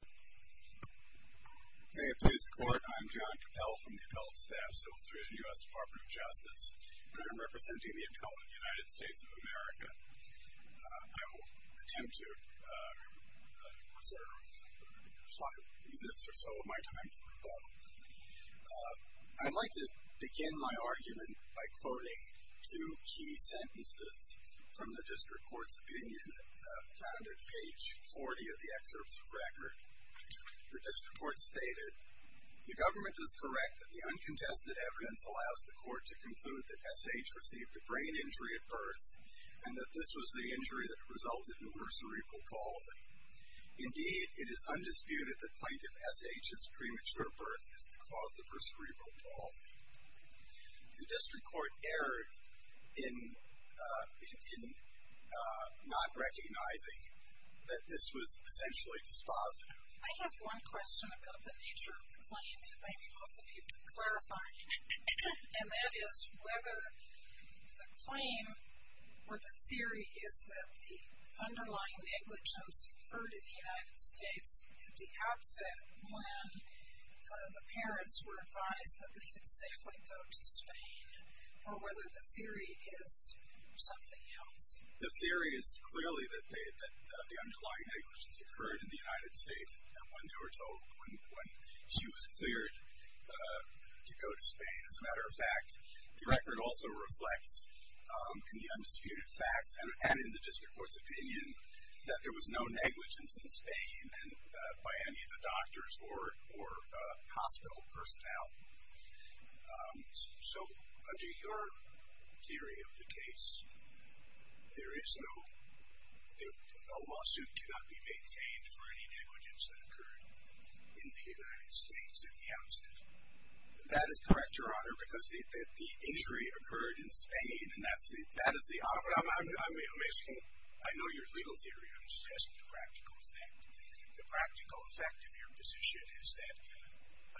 May it please the Court, I'm John Cappell from the Appellate Staff, Civil Division, U.S. Department of Justice, and I'm representing the Appellate United States of America. I will attempt to reserve five minutes or so of my time for rebuttal. I'd like to begin my argument by quoting two key sentences from the District Court's opinion, found at page 40 of the excerpts of record. The District Court stated, The government is correct that the uncontested evidence allows the Court to conclude that S. H. received a brain injury at birth, and that this was the injury that resulted in her cerebral palsy. Indeed, it is undisputed that Plaintiff S. H.'s premature birth is the cause of her cerebral palsy. The District Court erred in not recognizing that this was essentially dispositive. I have one question about the nature of the claim that maybe both of you could clarify, and that is whether the claim or the theory is that the underlying negligence occurred in the United States at the outset when the parents were advised that they could safely go to Spain, or whether the theory is something else. The theory is clearly that the underlying negligence occurred in the United States when they were told, when she was cleared to go to Spain. As a matter of fact, the record also reflects in the undisputed facts and in the District Court's opinion that there was no negligence in Spain by any of the doctors or hospital personnel. So, under your theory of the case, there is no, no lawsuit cannot be maintained for any negligence that occurred in the United States at the outset. That is correct, Your Honor, because the injury occurred in Spain, and that is the, I'm asking, I know your legal theory, I'm just asking the practical effect. The practical effect of your position is that,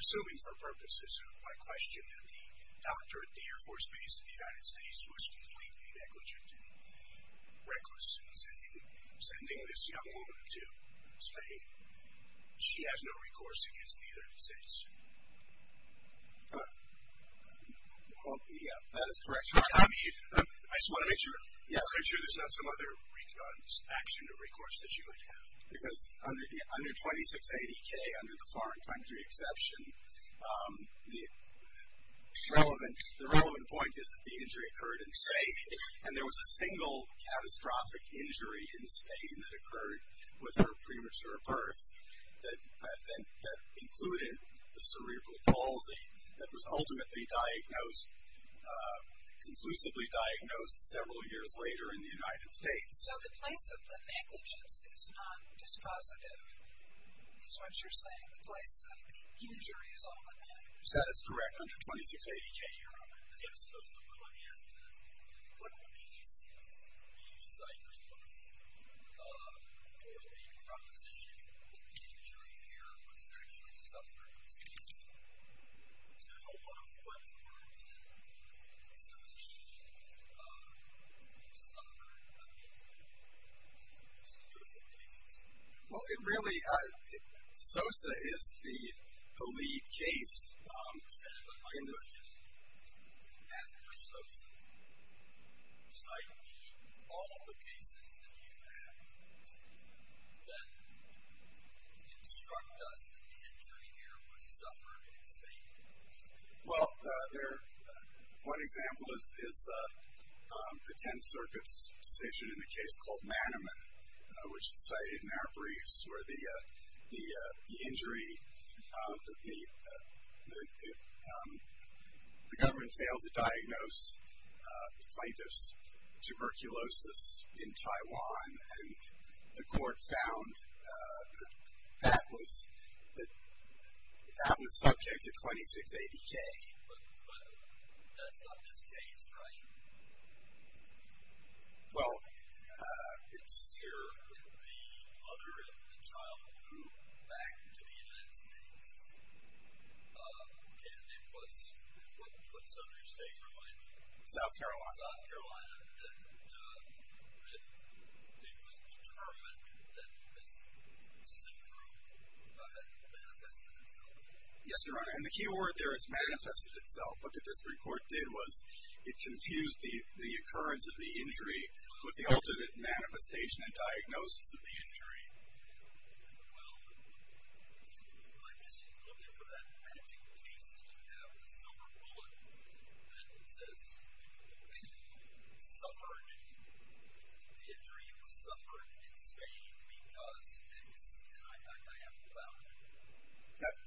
assuming for purposes of my question, that the doctor at the Air Force Base in the United States was completely negligent and reckless in sending this young woman to Spain. She has no recourse against the United States. Well, yeah, that is correct, Your Honor. I mean, I just want to make sure there's not some other action of recourse that she might have. Because under 2680K, under the foreign country exception, the relevant point is that the injury occurred in Spain, and there was a single catastrophic injury in Spain that occurred with her premature birth that included a cerebral palsy that was ultimately diagnosed, conclusively diagnosed several years later in the United States. So the place of the negligence is not dispositive. Is what you're saying, the place of the injury is all the negligence? That is correct. Under 2680K, Your Honor. Yes, so let me ask you this. What would be the CSB site records for the proposition that the injury here was actually suffered in Spain? There's a lot of what's learned here. Sosa, you suffered an injury. What's the use of cases? Well, it really, Sosa is the lead case. My question is, after Sosa, cite me all the cases that you've had that instruct us that the injury here was suffered in Spain. Well, there, one example is the 10th Circuit's decision in a case called Manniman, which is cited in our briefs where the injury, the government failed to diagnose the plaintiff's tuberculosis in Taiwan, and the court found that that was subject to 2680K. But that's not this case, right? Well, it's here. The mother and the child moved back to the United States, and it was, what's the other state, remind me? South Carolina. South Carolina. And it was determined that this syndrome had manifested itself. Yes, Your Honor, and the key word there is manifested itself. What the discipline court did was it confused the occurrence of the injury with the ultimate manifestation and diagnosis of the injury. Well, I'm just looking for that magic case that you have with the silver bullet that says the injury was suffered in Spain because, and I have no doubt in it.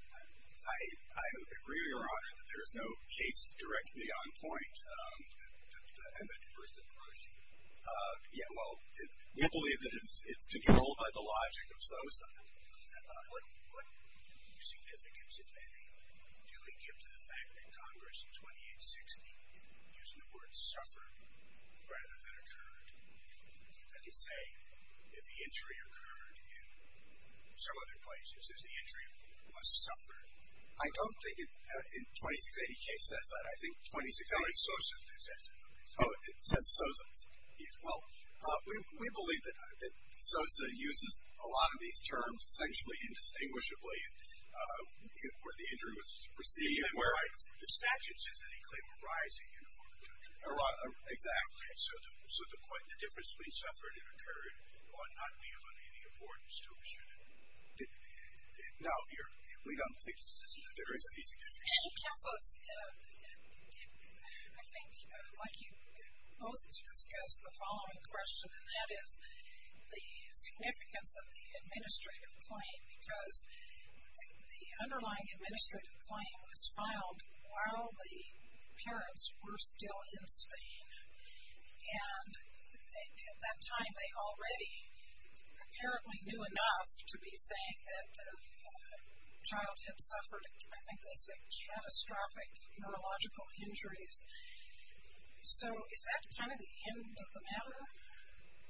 I agree, Your Honor, that there is no case directly on point in the first approach. Yeah, well, we believe that it's controlled by the logic of suicide. What significance did they duly give to the fact that Congress in 2860, using the word suffered rather than occurred? As you say, if the injury occurred in some other places, is the injury was suffered. I don't think it, in the 2680 case, says that. I think 2680 says it. Oh, it says Sosa. Well, we believe that Sosa uses a lot of these terms sexually indistinguishably where the injury was received. Even where the statute says that he claimed a rise in uniformity. Exactly. So the difference between suffered and occurred ought not be of any importance to us. Now, wait on the thicknesses of the differences. Counselors, I think I'd like you both to discuss the following question, and that is the significance of the administrative claim because the underlying administrative claim was filed while the parents were still in Spain, and at that time they already apparently knew enough to be saying that the child had suffered, I think they said, catastrophic neurological injuries. So is that kind of the end of the matter?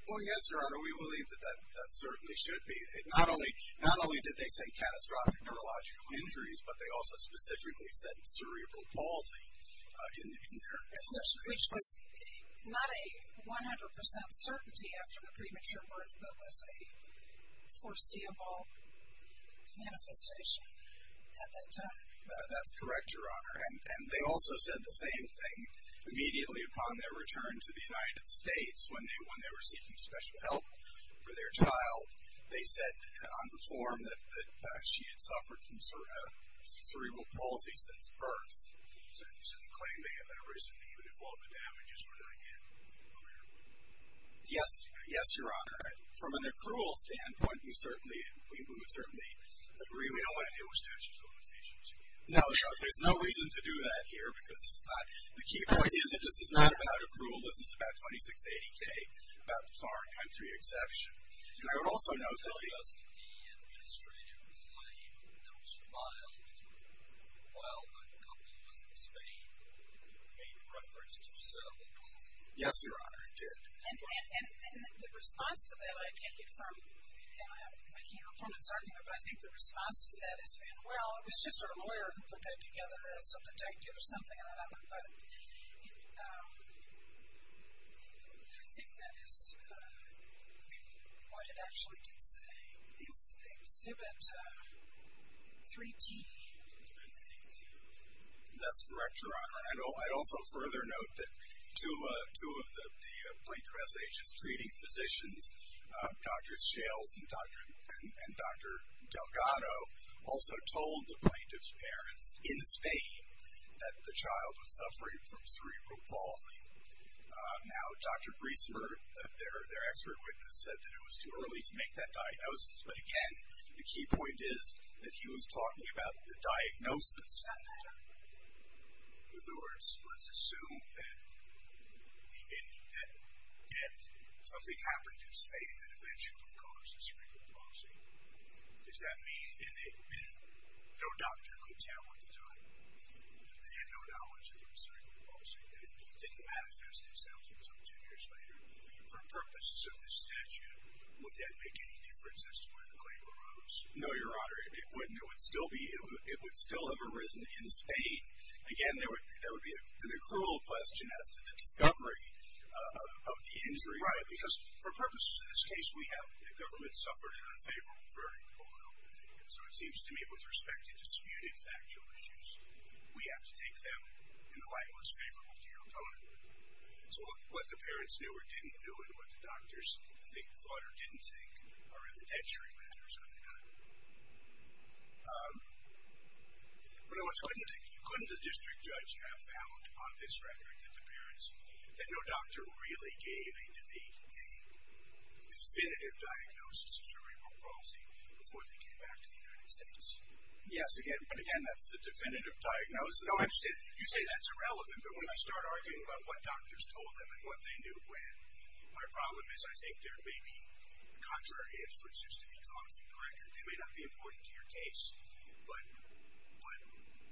Well, yes, Your Honor. We believe that that certainly should be. Not only did they say catastrophic neurological injuries, but they also specifically said cerebral palsy in their assertion. Which was not a 100% certainty after the premature birth, but was a foreseeable manifestation at that time. That's correct, Your Honor. And they also said the same thing immediately upon their return to the United States when they were seeking special help for their child. They said on the form that she had suffered from cerebral palsy since birth. So the claim may have been originally even if all of the damages were not yet clear. Yes. Yes, Your Honor. From an accrual standpoint, we certainly, we would certainly agree we don't want to deal with statute of limitations. Now, there's no reason to do that here because it's not, the key point is that this is not about accrual. This is about 2680K, about foreign country exception. Did you tell us that the administrator was lame and no smile while the couple was in Spain and made reference to cerebral palsy? Yes, Your Honor, he did. And the response to that, I take it from, I can't reform it, but I think the response to that has been, well, it was just our lawyer who put that together, some detective or something or another. But I think that is what it actually can say. It's exhibit 3G, I think. That's correct, Your Honor. I'd also further note that two of the plaintiff's agents treating physicians, Dr. Shales and Dr. Delgado, also told the plaintiff's parents in Spain that the child was suffering from cerebral palsy. Now, Dr. Griesemer, their expert witness, said that it was too early to make that diagnosis. But, again, the key point is that he was talking about the diagnosis. In other words, let's assume that something happened in Spain that eventually caused cerebral palsy. Does that mean, and no doctor could tell at the time, they had no knowledge of cerebral palsy, that it didn't manifest itself until two years later. For purposes of this statute, would that make any difference as to when the claim arose? No, Your Honor. It wouldn't. It would still have arisen in Spain. Again, that would be a cruel question as to the discovery of the injury. Right, because for purposes of this case, we have the government suffered an unfavorable verdict on opening. So it seems to me with respect to disputed factual issues, we have to take them in the light most favorable to your opponent. So what the parents knew or didn't know and what the doctors thought or didn't think are evidentiary matters, are they not? But, in other words, couldn't the district judge have found on this record that the parents, that no doctor really gave a definitive diagnosis of cerebral palsy before they came back to the United States? Yes, again. But again, that's the definitive diagnosis. You say that's irrelevant, but when you start arguing about what doctors told them and what they knew when, my problem is I think there may be contrary inferences to be caught from the record. They may not be important to your case, but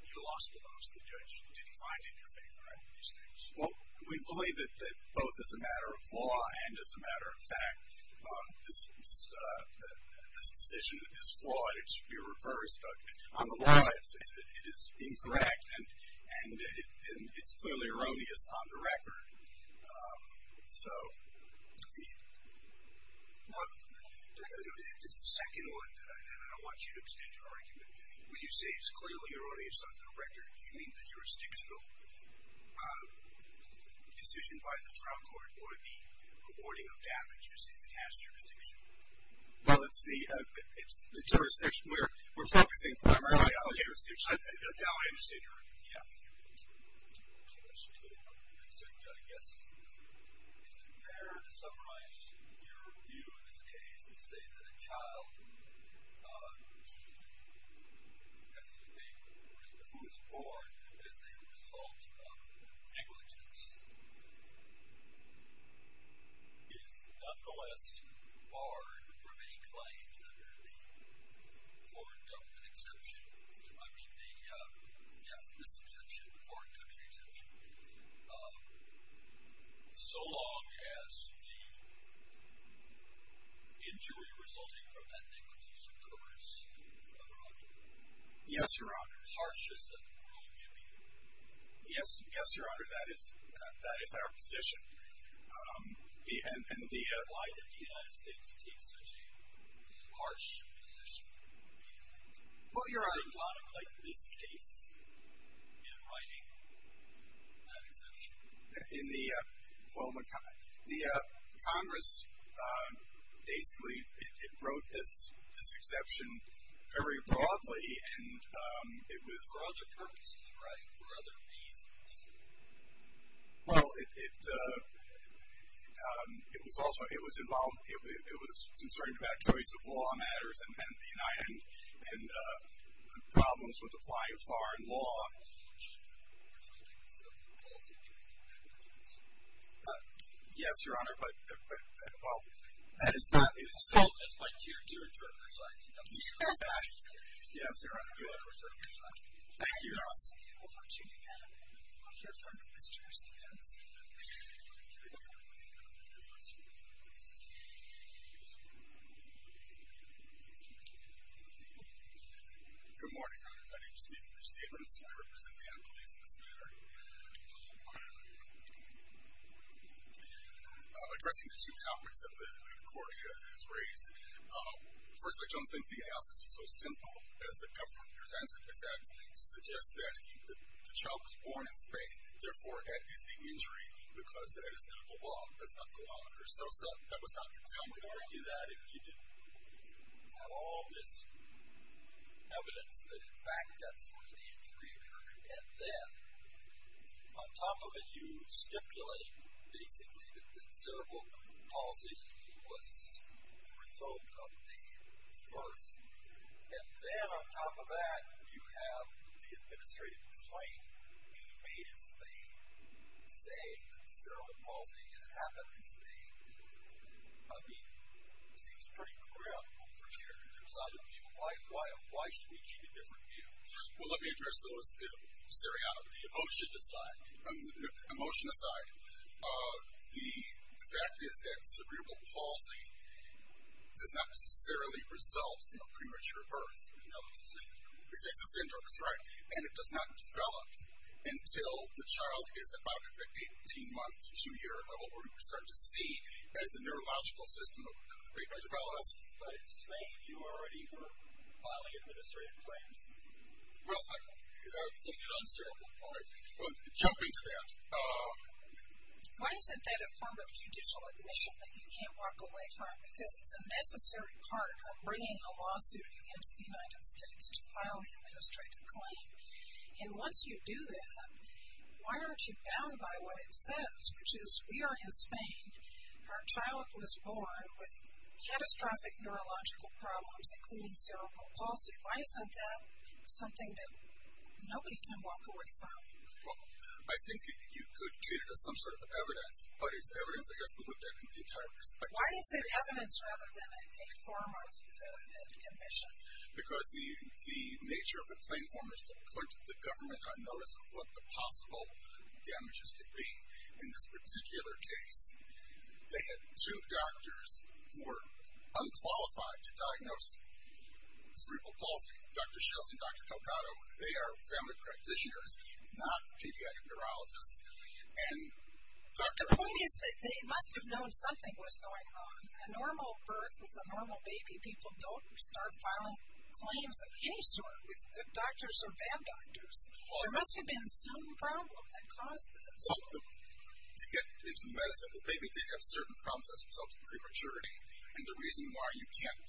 you lost the votes and the judge didn't find it in your favor after all these things. Well, we believe that both as a matter of law and as a matter of fact, this decision is flawed. It should be reversed. But on the law, it is incorrect and it's clearly erroneous on the record. So it's the second one that I want you to extend your argument. When you say it's clearly erroneous on the record, do you mean the jurisdictional decision by the trial court or the rewarding of damages in the past jurisdiction? Well, it's the jurisdiction. We're focusing primarily on the jurisdiction. Now I understand your argument. Yeah. Thank you. Let's just wait another 30 seconds. If a person who is born as a result of negligence is nonetheless barred from any claims under the foreign government exception, I mean the, yes, this exception, the foreign country exception, so long as the injury resulting from that negligence occurs, Your Honor. Yes, Your Honor. Harshest that the world may be. Yes, Your Honor. That is our position. And why did the United States take such a harsh position? Well, Your Honor. Like this case in writing, that exception. In the, well, the Congress basically wrote this exception very broadly and it was. For other purposes, right? For other reasons. Well, it was also, it was concerned about choice of law matters and the United, and problems with applying foreign law. Yes, Your Honor. But, well. That is not. It is so. Well, that's my dear, dear, dear friend. Yes, Your Honor. Thank you, Your Honor. Thank you, Your Honor. Mr. Stevenson. Good morning, Your Honor. My name is Stevenson. I represent the employees in this matter. Addressing the two comments that the court has raised. First, I don't think the analysis is so simple as the government presents it. It suggests that the child was born in Spain. Therefore, that is the injury because that is not the law. That's not the law. That was not the government. I wouldn't argue that if you didn't have all this evidence that, in fact, that's where the injury occurred. And then, on top of it, you stipulate, basically, that cerebral palsy was the result of the birth. And then, on top of that, you have the administrative complaint being made as they say that cerebral palsy happened in Spain. I mean, it seems pretty programmable from here. Why should we take a different view? Well, let me address those. The emotion aside, the fact is that cerebral palsy does not necessarily result from premature birth. It's a syndrome. It's a syndrome, that's right. And it does not develop until the child is about 18 months to two years old, where we start to see as the neurological system develops. But in Spain, you already were filing administrative claims. Well, I think it's uncerebral palsy. Jumping to that. Why isn't that a form of judicial admission that you can't walk away from? Because it's a necessary part of bringing a lawsuit against the United States to file the administrative claim. And once you do that, why aren't you bound by what it says, which is, we are in Spain, our child was born with catastrophic neurological problems, including cerebral palsy. Why isn't that something that nobody can walk away from? Well, I think you could treat it as some sort of evidence, but it's evidence that has been looked at in the entire perspective. Why do you say evidence rather than a form of admission? Because the nature of the claim form is to put the government on notice of what the possible damages could be. In this particular case, they had two doctors who were unqualified to diagnose cerebral palsy, Dr. Schiltz and Dr. Delgado. They are family practitioners, not pediatric neurologists. But the point is that they must have known something was going on. A normal birth with a normal baby, people don't start filing claims of any sort with good doctors or bad doctors. There must have been some problem that caused this. Well, to get into medicine, the baby did have certain problems as a result of prematurity, and the reason why you can't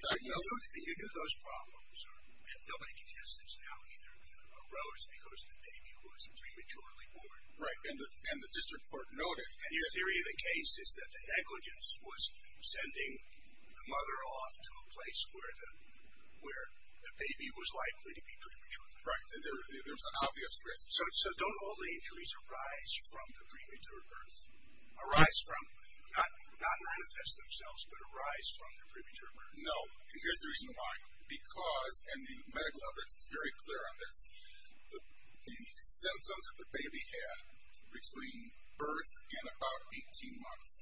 diagnose it. You do those problems, and nobody can test this now. Neither arose because the baby was prematurely born. Right, and the district court noted. And the theory of the case is that the negligence was sending the mother off to a place where the baby was likely to be premature. Right, and there was an obvious risk. So don't all the injuries arise from the premature birth? Arise from? Not manifest themselves, but arise from the premature birth. No, and here's the reason why. Because, and the medical evidence is very clear on this, the symptoms that the baby had between birth and about 18 months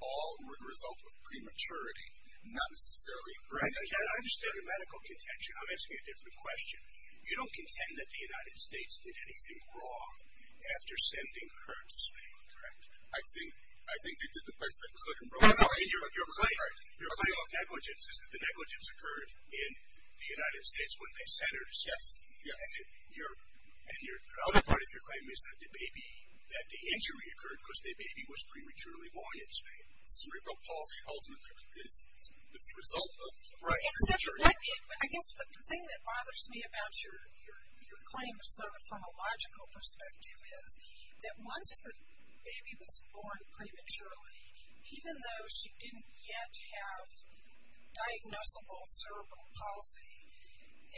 all were the result of prematurity, not necessarily premature birth. I understand your medical contention. I'm asking you a different question. You don't contend that the United States did anything wrong after sending her to Spain, correct? I think they did the best they could. Your claim of negligence is that the negligence occurred in the United States when they sent her to Spain. Yes, yes. And the other part of your claim is that the baby, that the injury occurred because the baby was prematurely born in Spain. It's the result of premature birth. I guess the thing that bothers me about your claim from a logical perspective is that once the baby was born prematurely, even though she didn't yet have diagnosable cerebral palsy,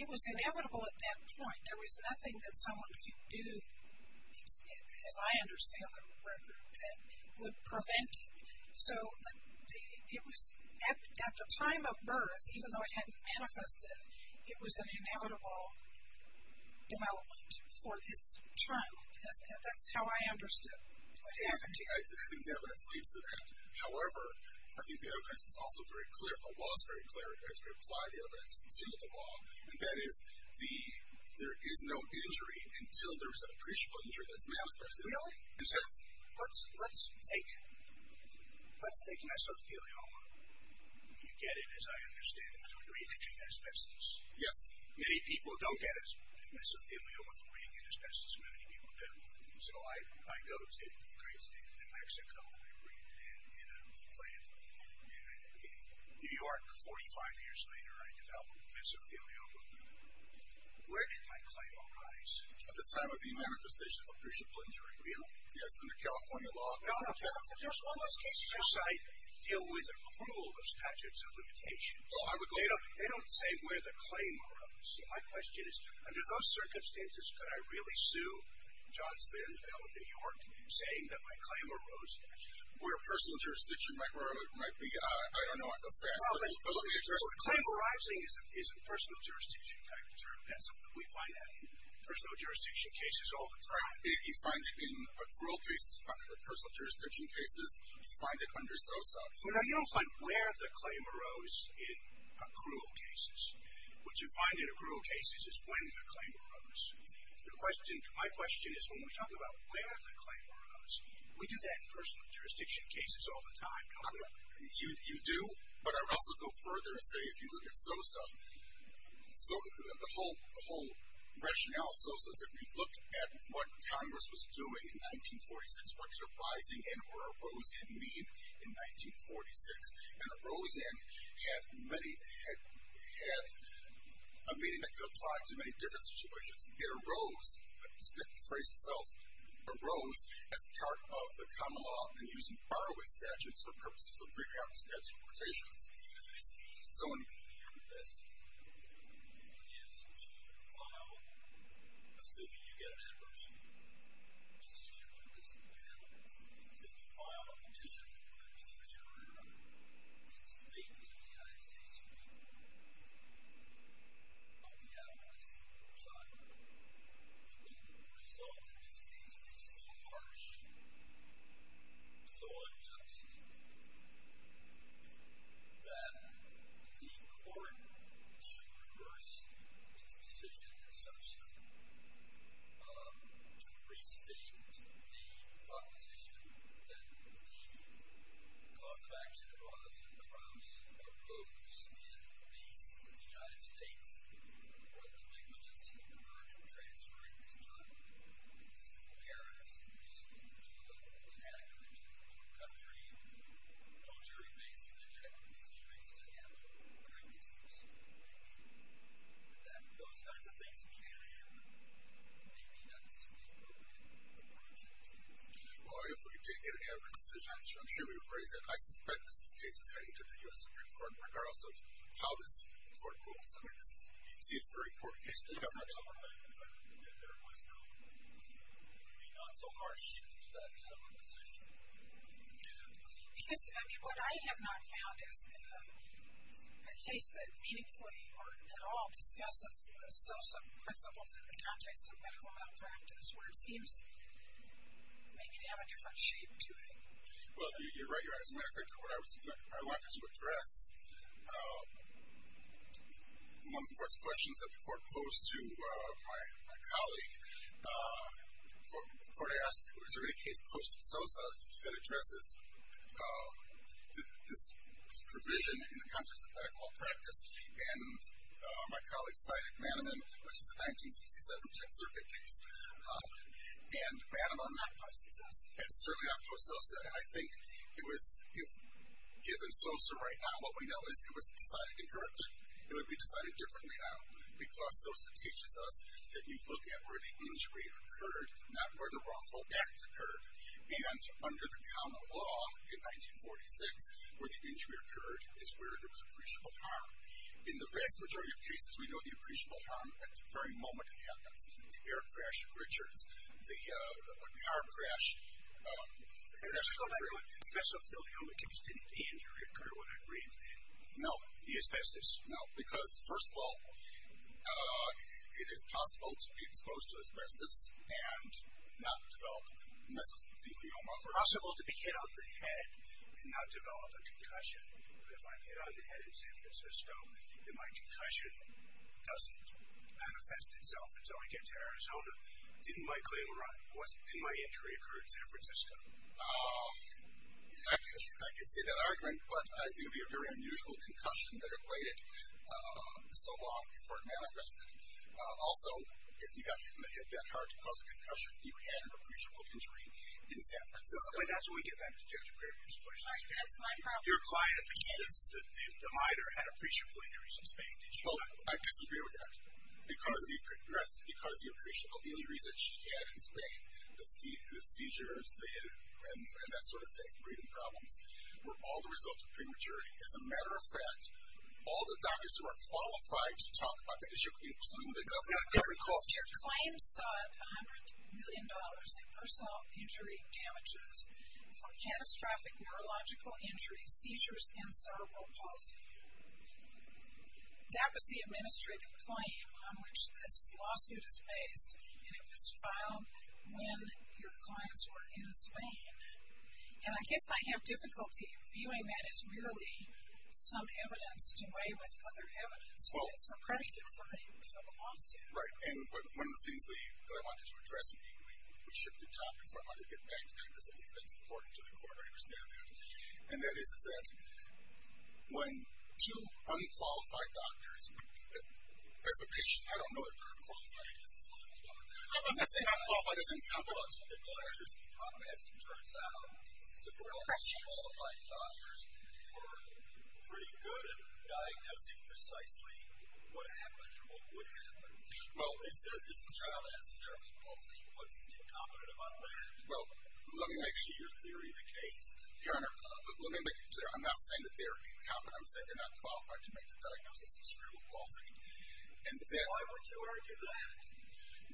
it was inevitable at that point. There was nothing that someone could do, as I understand it, that would prevent it. So at the time of birth, even though it hadn't manifested, it was an inevitable development for this child. That's how I understood what happened. I think the evidence leads to that. However, I think the evidence is also very clear, or was very clear, as we apply the evidence to the law, and that is there is no injury until there is an appreciable injury that's manifested. Really? Let's take mesothelioma. You get it, as I understand it, through breathing asbestos. Yes. Many people don't get mesothelioma through breathing asbestos. Many people do. So I go to great states, New Mexico, and breathe in a plant. In New York, 45 years later, I developed mesothelioma. Where did my claim arise? At the time of the manifestation of appreciable injury. Really? Yes, under California law. No, no. All those cases I cite deal with approval of statutes of limitations. They don't say where the claim arose. My question is, under those circumstances, could I really sue Johns Bonneville of New York saying that my claim arose there? Where personal jurisdiction might be, I don't know. I don't know the address. Claim arising is a personal jurisdiction kind of term. We find that in personal jurisdiction cases all the time. You find it in accrual cases, personal jurisdiction cases. You find it under SOSA. You don't find where the claim arose in accrual cases. What you find in accrual cases is when the claim arose. My question is, when we talk about where the claim arose, we do that in personal jurisdiction cases all the time, don't we? You do, but I would also go further and say if you look at SOSA, so the whole rationale of SOSA is if you look at what Congress was doing in 1946, what did a rising end or a rose end mean in 1946? And a rose end had a meaning that could apply to many different situations. It arose, the phrase itself, arose as part of the common law in using borrowing statutes for purposes of figuring out the statute of limitations. In this case, somebody being investigated is to file, as soon as you get an adversary decision, what it is that you have is to file a petition for a restricted area. It's fake because we're the United States of America, but we have a restricted area. The result in this case is so harsh, so unjust, that the court should reverse its decision in SOSA to restate the proposition that the cause of action arose in the United States with the negligence incurred in transferring this child from East Paris to Anaheim, to a country military-based in the United States to handle crime cases. That those kinds of things can happen. Maybe that's the appropriate approach in this case. Well, if we did get an adverse decision, I'm sure we would raise it. I suspect this case is heading to the U.S. Supreme Court, regardless of how this court rules. You can see it's a very court case. I'm not sure that there was not so harsh a decision. Because what I have not found is a case that meaningfully or at all discusses the SOSA principles in the context of medical malpractice, where it seems maybe to have a different shape to it. Well, you're right. As a matter of fact, what I would like to address, one of the first questions that the court posed to my colleague, the court asked, is there any case post-SOSA that addresses this provision in the context of medical malpractice? And my colleague cited Manniman, which is a 1967 Texas Circuit case. And Manniman magnifies success. It's certainly not post-SOSA. And I think if given SOSA right now, what we know is it was decided inherently, it would be decided differently now. Because SOSA teaches us that you look at where the injury occurred, not where the wrongful act occurred. And under the common law in 1946, where the injury occurred is where there was appreciable harm. In the vast majority of cases, we know the appreciable harm at the very moment it happens. The air crash at Richards. The car crash. The mesothelioma. The mesothelioma can extend the injury occurred when I breathed in. No. The asbestos. No. Because, first of all, it is possible to be exposed to asbestos and not develop mesothelioma. It's possible to be hit on the head and not develop a concussion. But if I'm hit on the head, it's emphasis, so my concussion doesn't manifest itself. And so I get to Arizona. Didn't my claim arrive? Didn't my injury occur in San Francisco? I could say that argument, but I think it would be a very unusual concussion that it waited so long before it manifested. Also, if you got hit on the head that hard to cause a concussion, you had an appreciable injury in San Francisco. But that's when we get back to Judge Gregory's question. That's my problem. Your client at the case, the minor, had appreciable injuries in Spain. Well, I disagree with that. Because the appreciable injuries that she had in Spain, the seizures, the head, and that sort of thing, breathing problems, were all the result of prematurity. As a matter of fact, all the doctors who are qualified to talk about that issue, including the government, have recalled. Your claim sought $100 million in personal injury damages for catastrophic neurological injuries, seizures, and cerebral palsy. That was the administrative claim on which this lawsuit is based. And it was filed when your clients were in Spain. And I guess I have difficulty viewing that as merely some evidence to weigh with other evidence. But it's a predicate for the lawsuit. Right. And one of the things that I wanted to address, we shifted topics, so I wanted to get back to that. I think that's important to the court to understand that. And that is that when two unqualified doctors, as the patient, I don't know if they're unqualified. I'm not saying unqualified doesn't count, but as it turns out, several unqualified doctors were pretty good at diagnosing precisely what happened and what would happen. Well, is the child has cerebral palsy? What's incompetent about that? Well, let me make sure you're clear in the case. Your Honor, let me make it clear. I'm not saying that they're incompetent. I'm saying they're not qualified to make the diagnosis of cerebral palsy. Why would you argue that?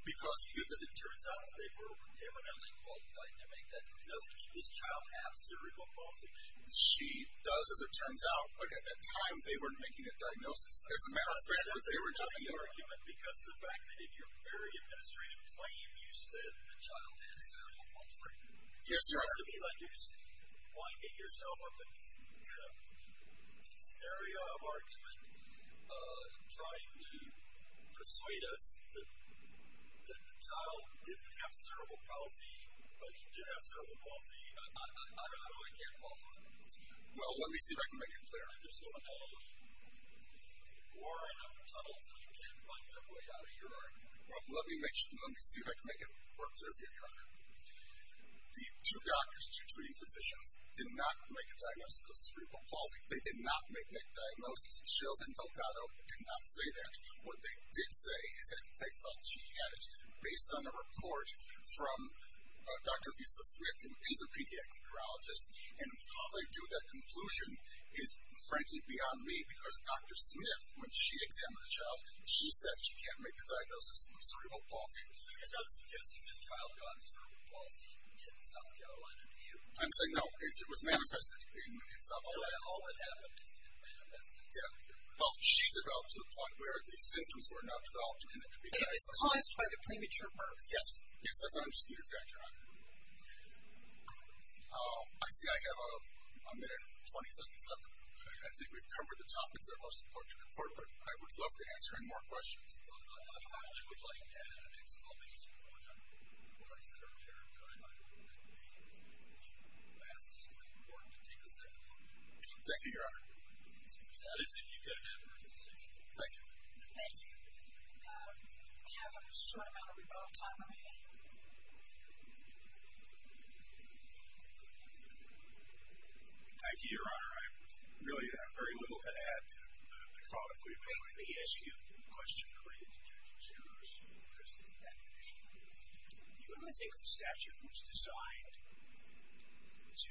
Because as it turns out, they were evidently qualified to make that diagnosis. Does this child have cerebral palsy? She does, as it turns out. But at that time, they weren't making a diagnosis. As a matter of fact, they were doing the argument. Because the fact that in your very administrative claim, you said the child had cerebral palsy. Yes, Your Honor. Does that mean that you're winding yourself up in this area of argument, trying to persuade us that the child didn't have cerebral palsy, but he did have cerebral palsy? I don't know. I can't follow that. Well, let me see if I can make it clear. I just don't know. There are a number of tunnels that you can't find your way out of, Your Honor. Well, let me see if I can make it work, sir, if you don't mind. The two doctors, two treating physicians, did not make a diagnosis of cerebral palsy. They did not make that diagnosis. Sheldon Delgado did not say that. What they did say is that they thought she had it, based on a report from Dr. Lisa Smith, who is a pediatric neurologist. And how they drew that conclusion is, frankly, beyond me. Because Dr. Smith, when she examined the child, she said she can't make a diagnosis of cerebral palsy. So you're not suggesting this child got cerebral palsy in South Carolina, do you? I'm saying no. It was manifested in South Carolina. All that happened is it manifested in South Carolina. Well, she developed to the point where the symptoms were not developed. And it's caused by the premature birth? Yes. Yes, that's what I'm asking you, Your Honor. I see I have a minute and 20 seconds left. I think we've covered the topics that are most important. I would love to answer any more questions. But I would like to add an exclamation point on what I said earlier, that I thought it would be most important to take a second look. Thank you, Your Honor. That is, if you could have a second look. Thank you. Thank you. We have a short amount of rebuttal time remaining. Thank you, Your Honor. I really have very little to add to the call that we've made. Your Honor, let me ask you a question related to Judge Osiris. Do you really think that the statute was designed to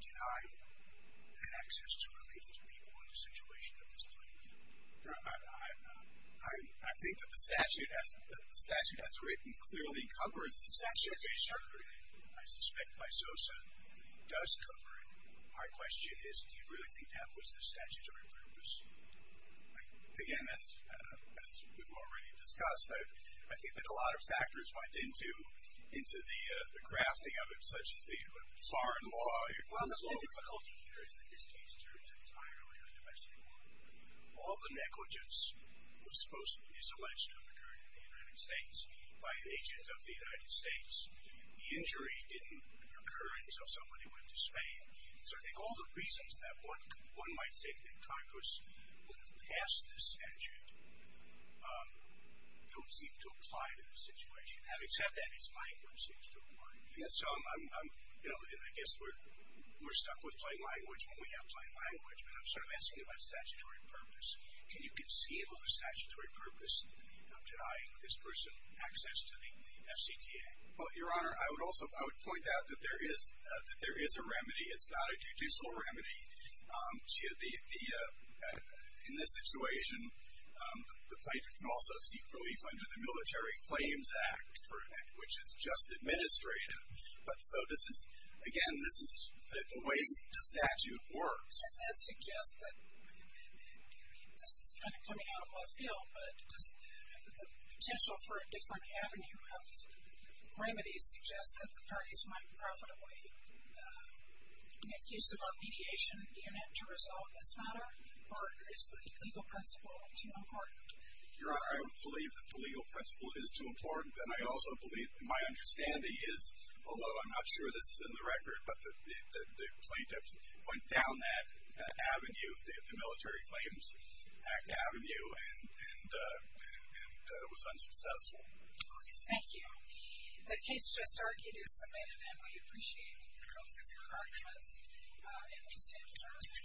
deny an access to relief to people in a situation of this magnitude? Your Honor, I think that the statute as written clearly covers the statute. I suspect by SOSA, it does cover it. My question is, do you really think that was the statute of your purpose? Again, as we've already discussed, I think that a lot of factors went into the crafting of it, such as the foreign law. Well, the difficulty here is that this case turns entirely on domestic law. All the negligence that supposedly is alleged to have occurred in the United States by an agent of the United States, the injury didn't occur until somebody went to Spain. So I think all the reasons that one might think that Congress would have passed this statute don't seem to apply to the situation. Except that it's my interest it seems to apply. I guess we're stuck with plain language when we have plain language, but I'm sort of asking about statutory purpose. Can you conceive of a statutory purpose of denying this person access to the FCTA? Well, Your Honor, I would also point out that there is a remedy. It's not a judicial remedy. In this situation, the plaintiff can also seek relief under the Military Claims Act, which is just administrative. But so this is, again, this is the way the statute works. Does that suggest that, I mean, this is kind of coming out of left field, but does the potential for a different avenue of remedies suggest that the use of a mediation unit to resolve this matter, or is the legal principle too important? Your Honor, I don't believe that the legal principle is too important, and I also believe, my understanding is, although I'm not sure this is in the record, but the plaintiff went down that avenue, the Military Claims Act avenue, and was unsuccessful. Thank you. The case just argued is submitted, and we appreciate your arguments. And we stand adjourned.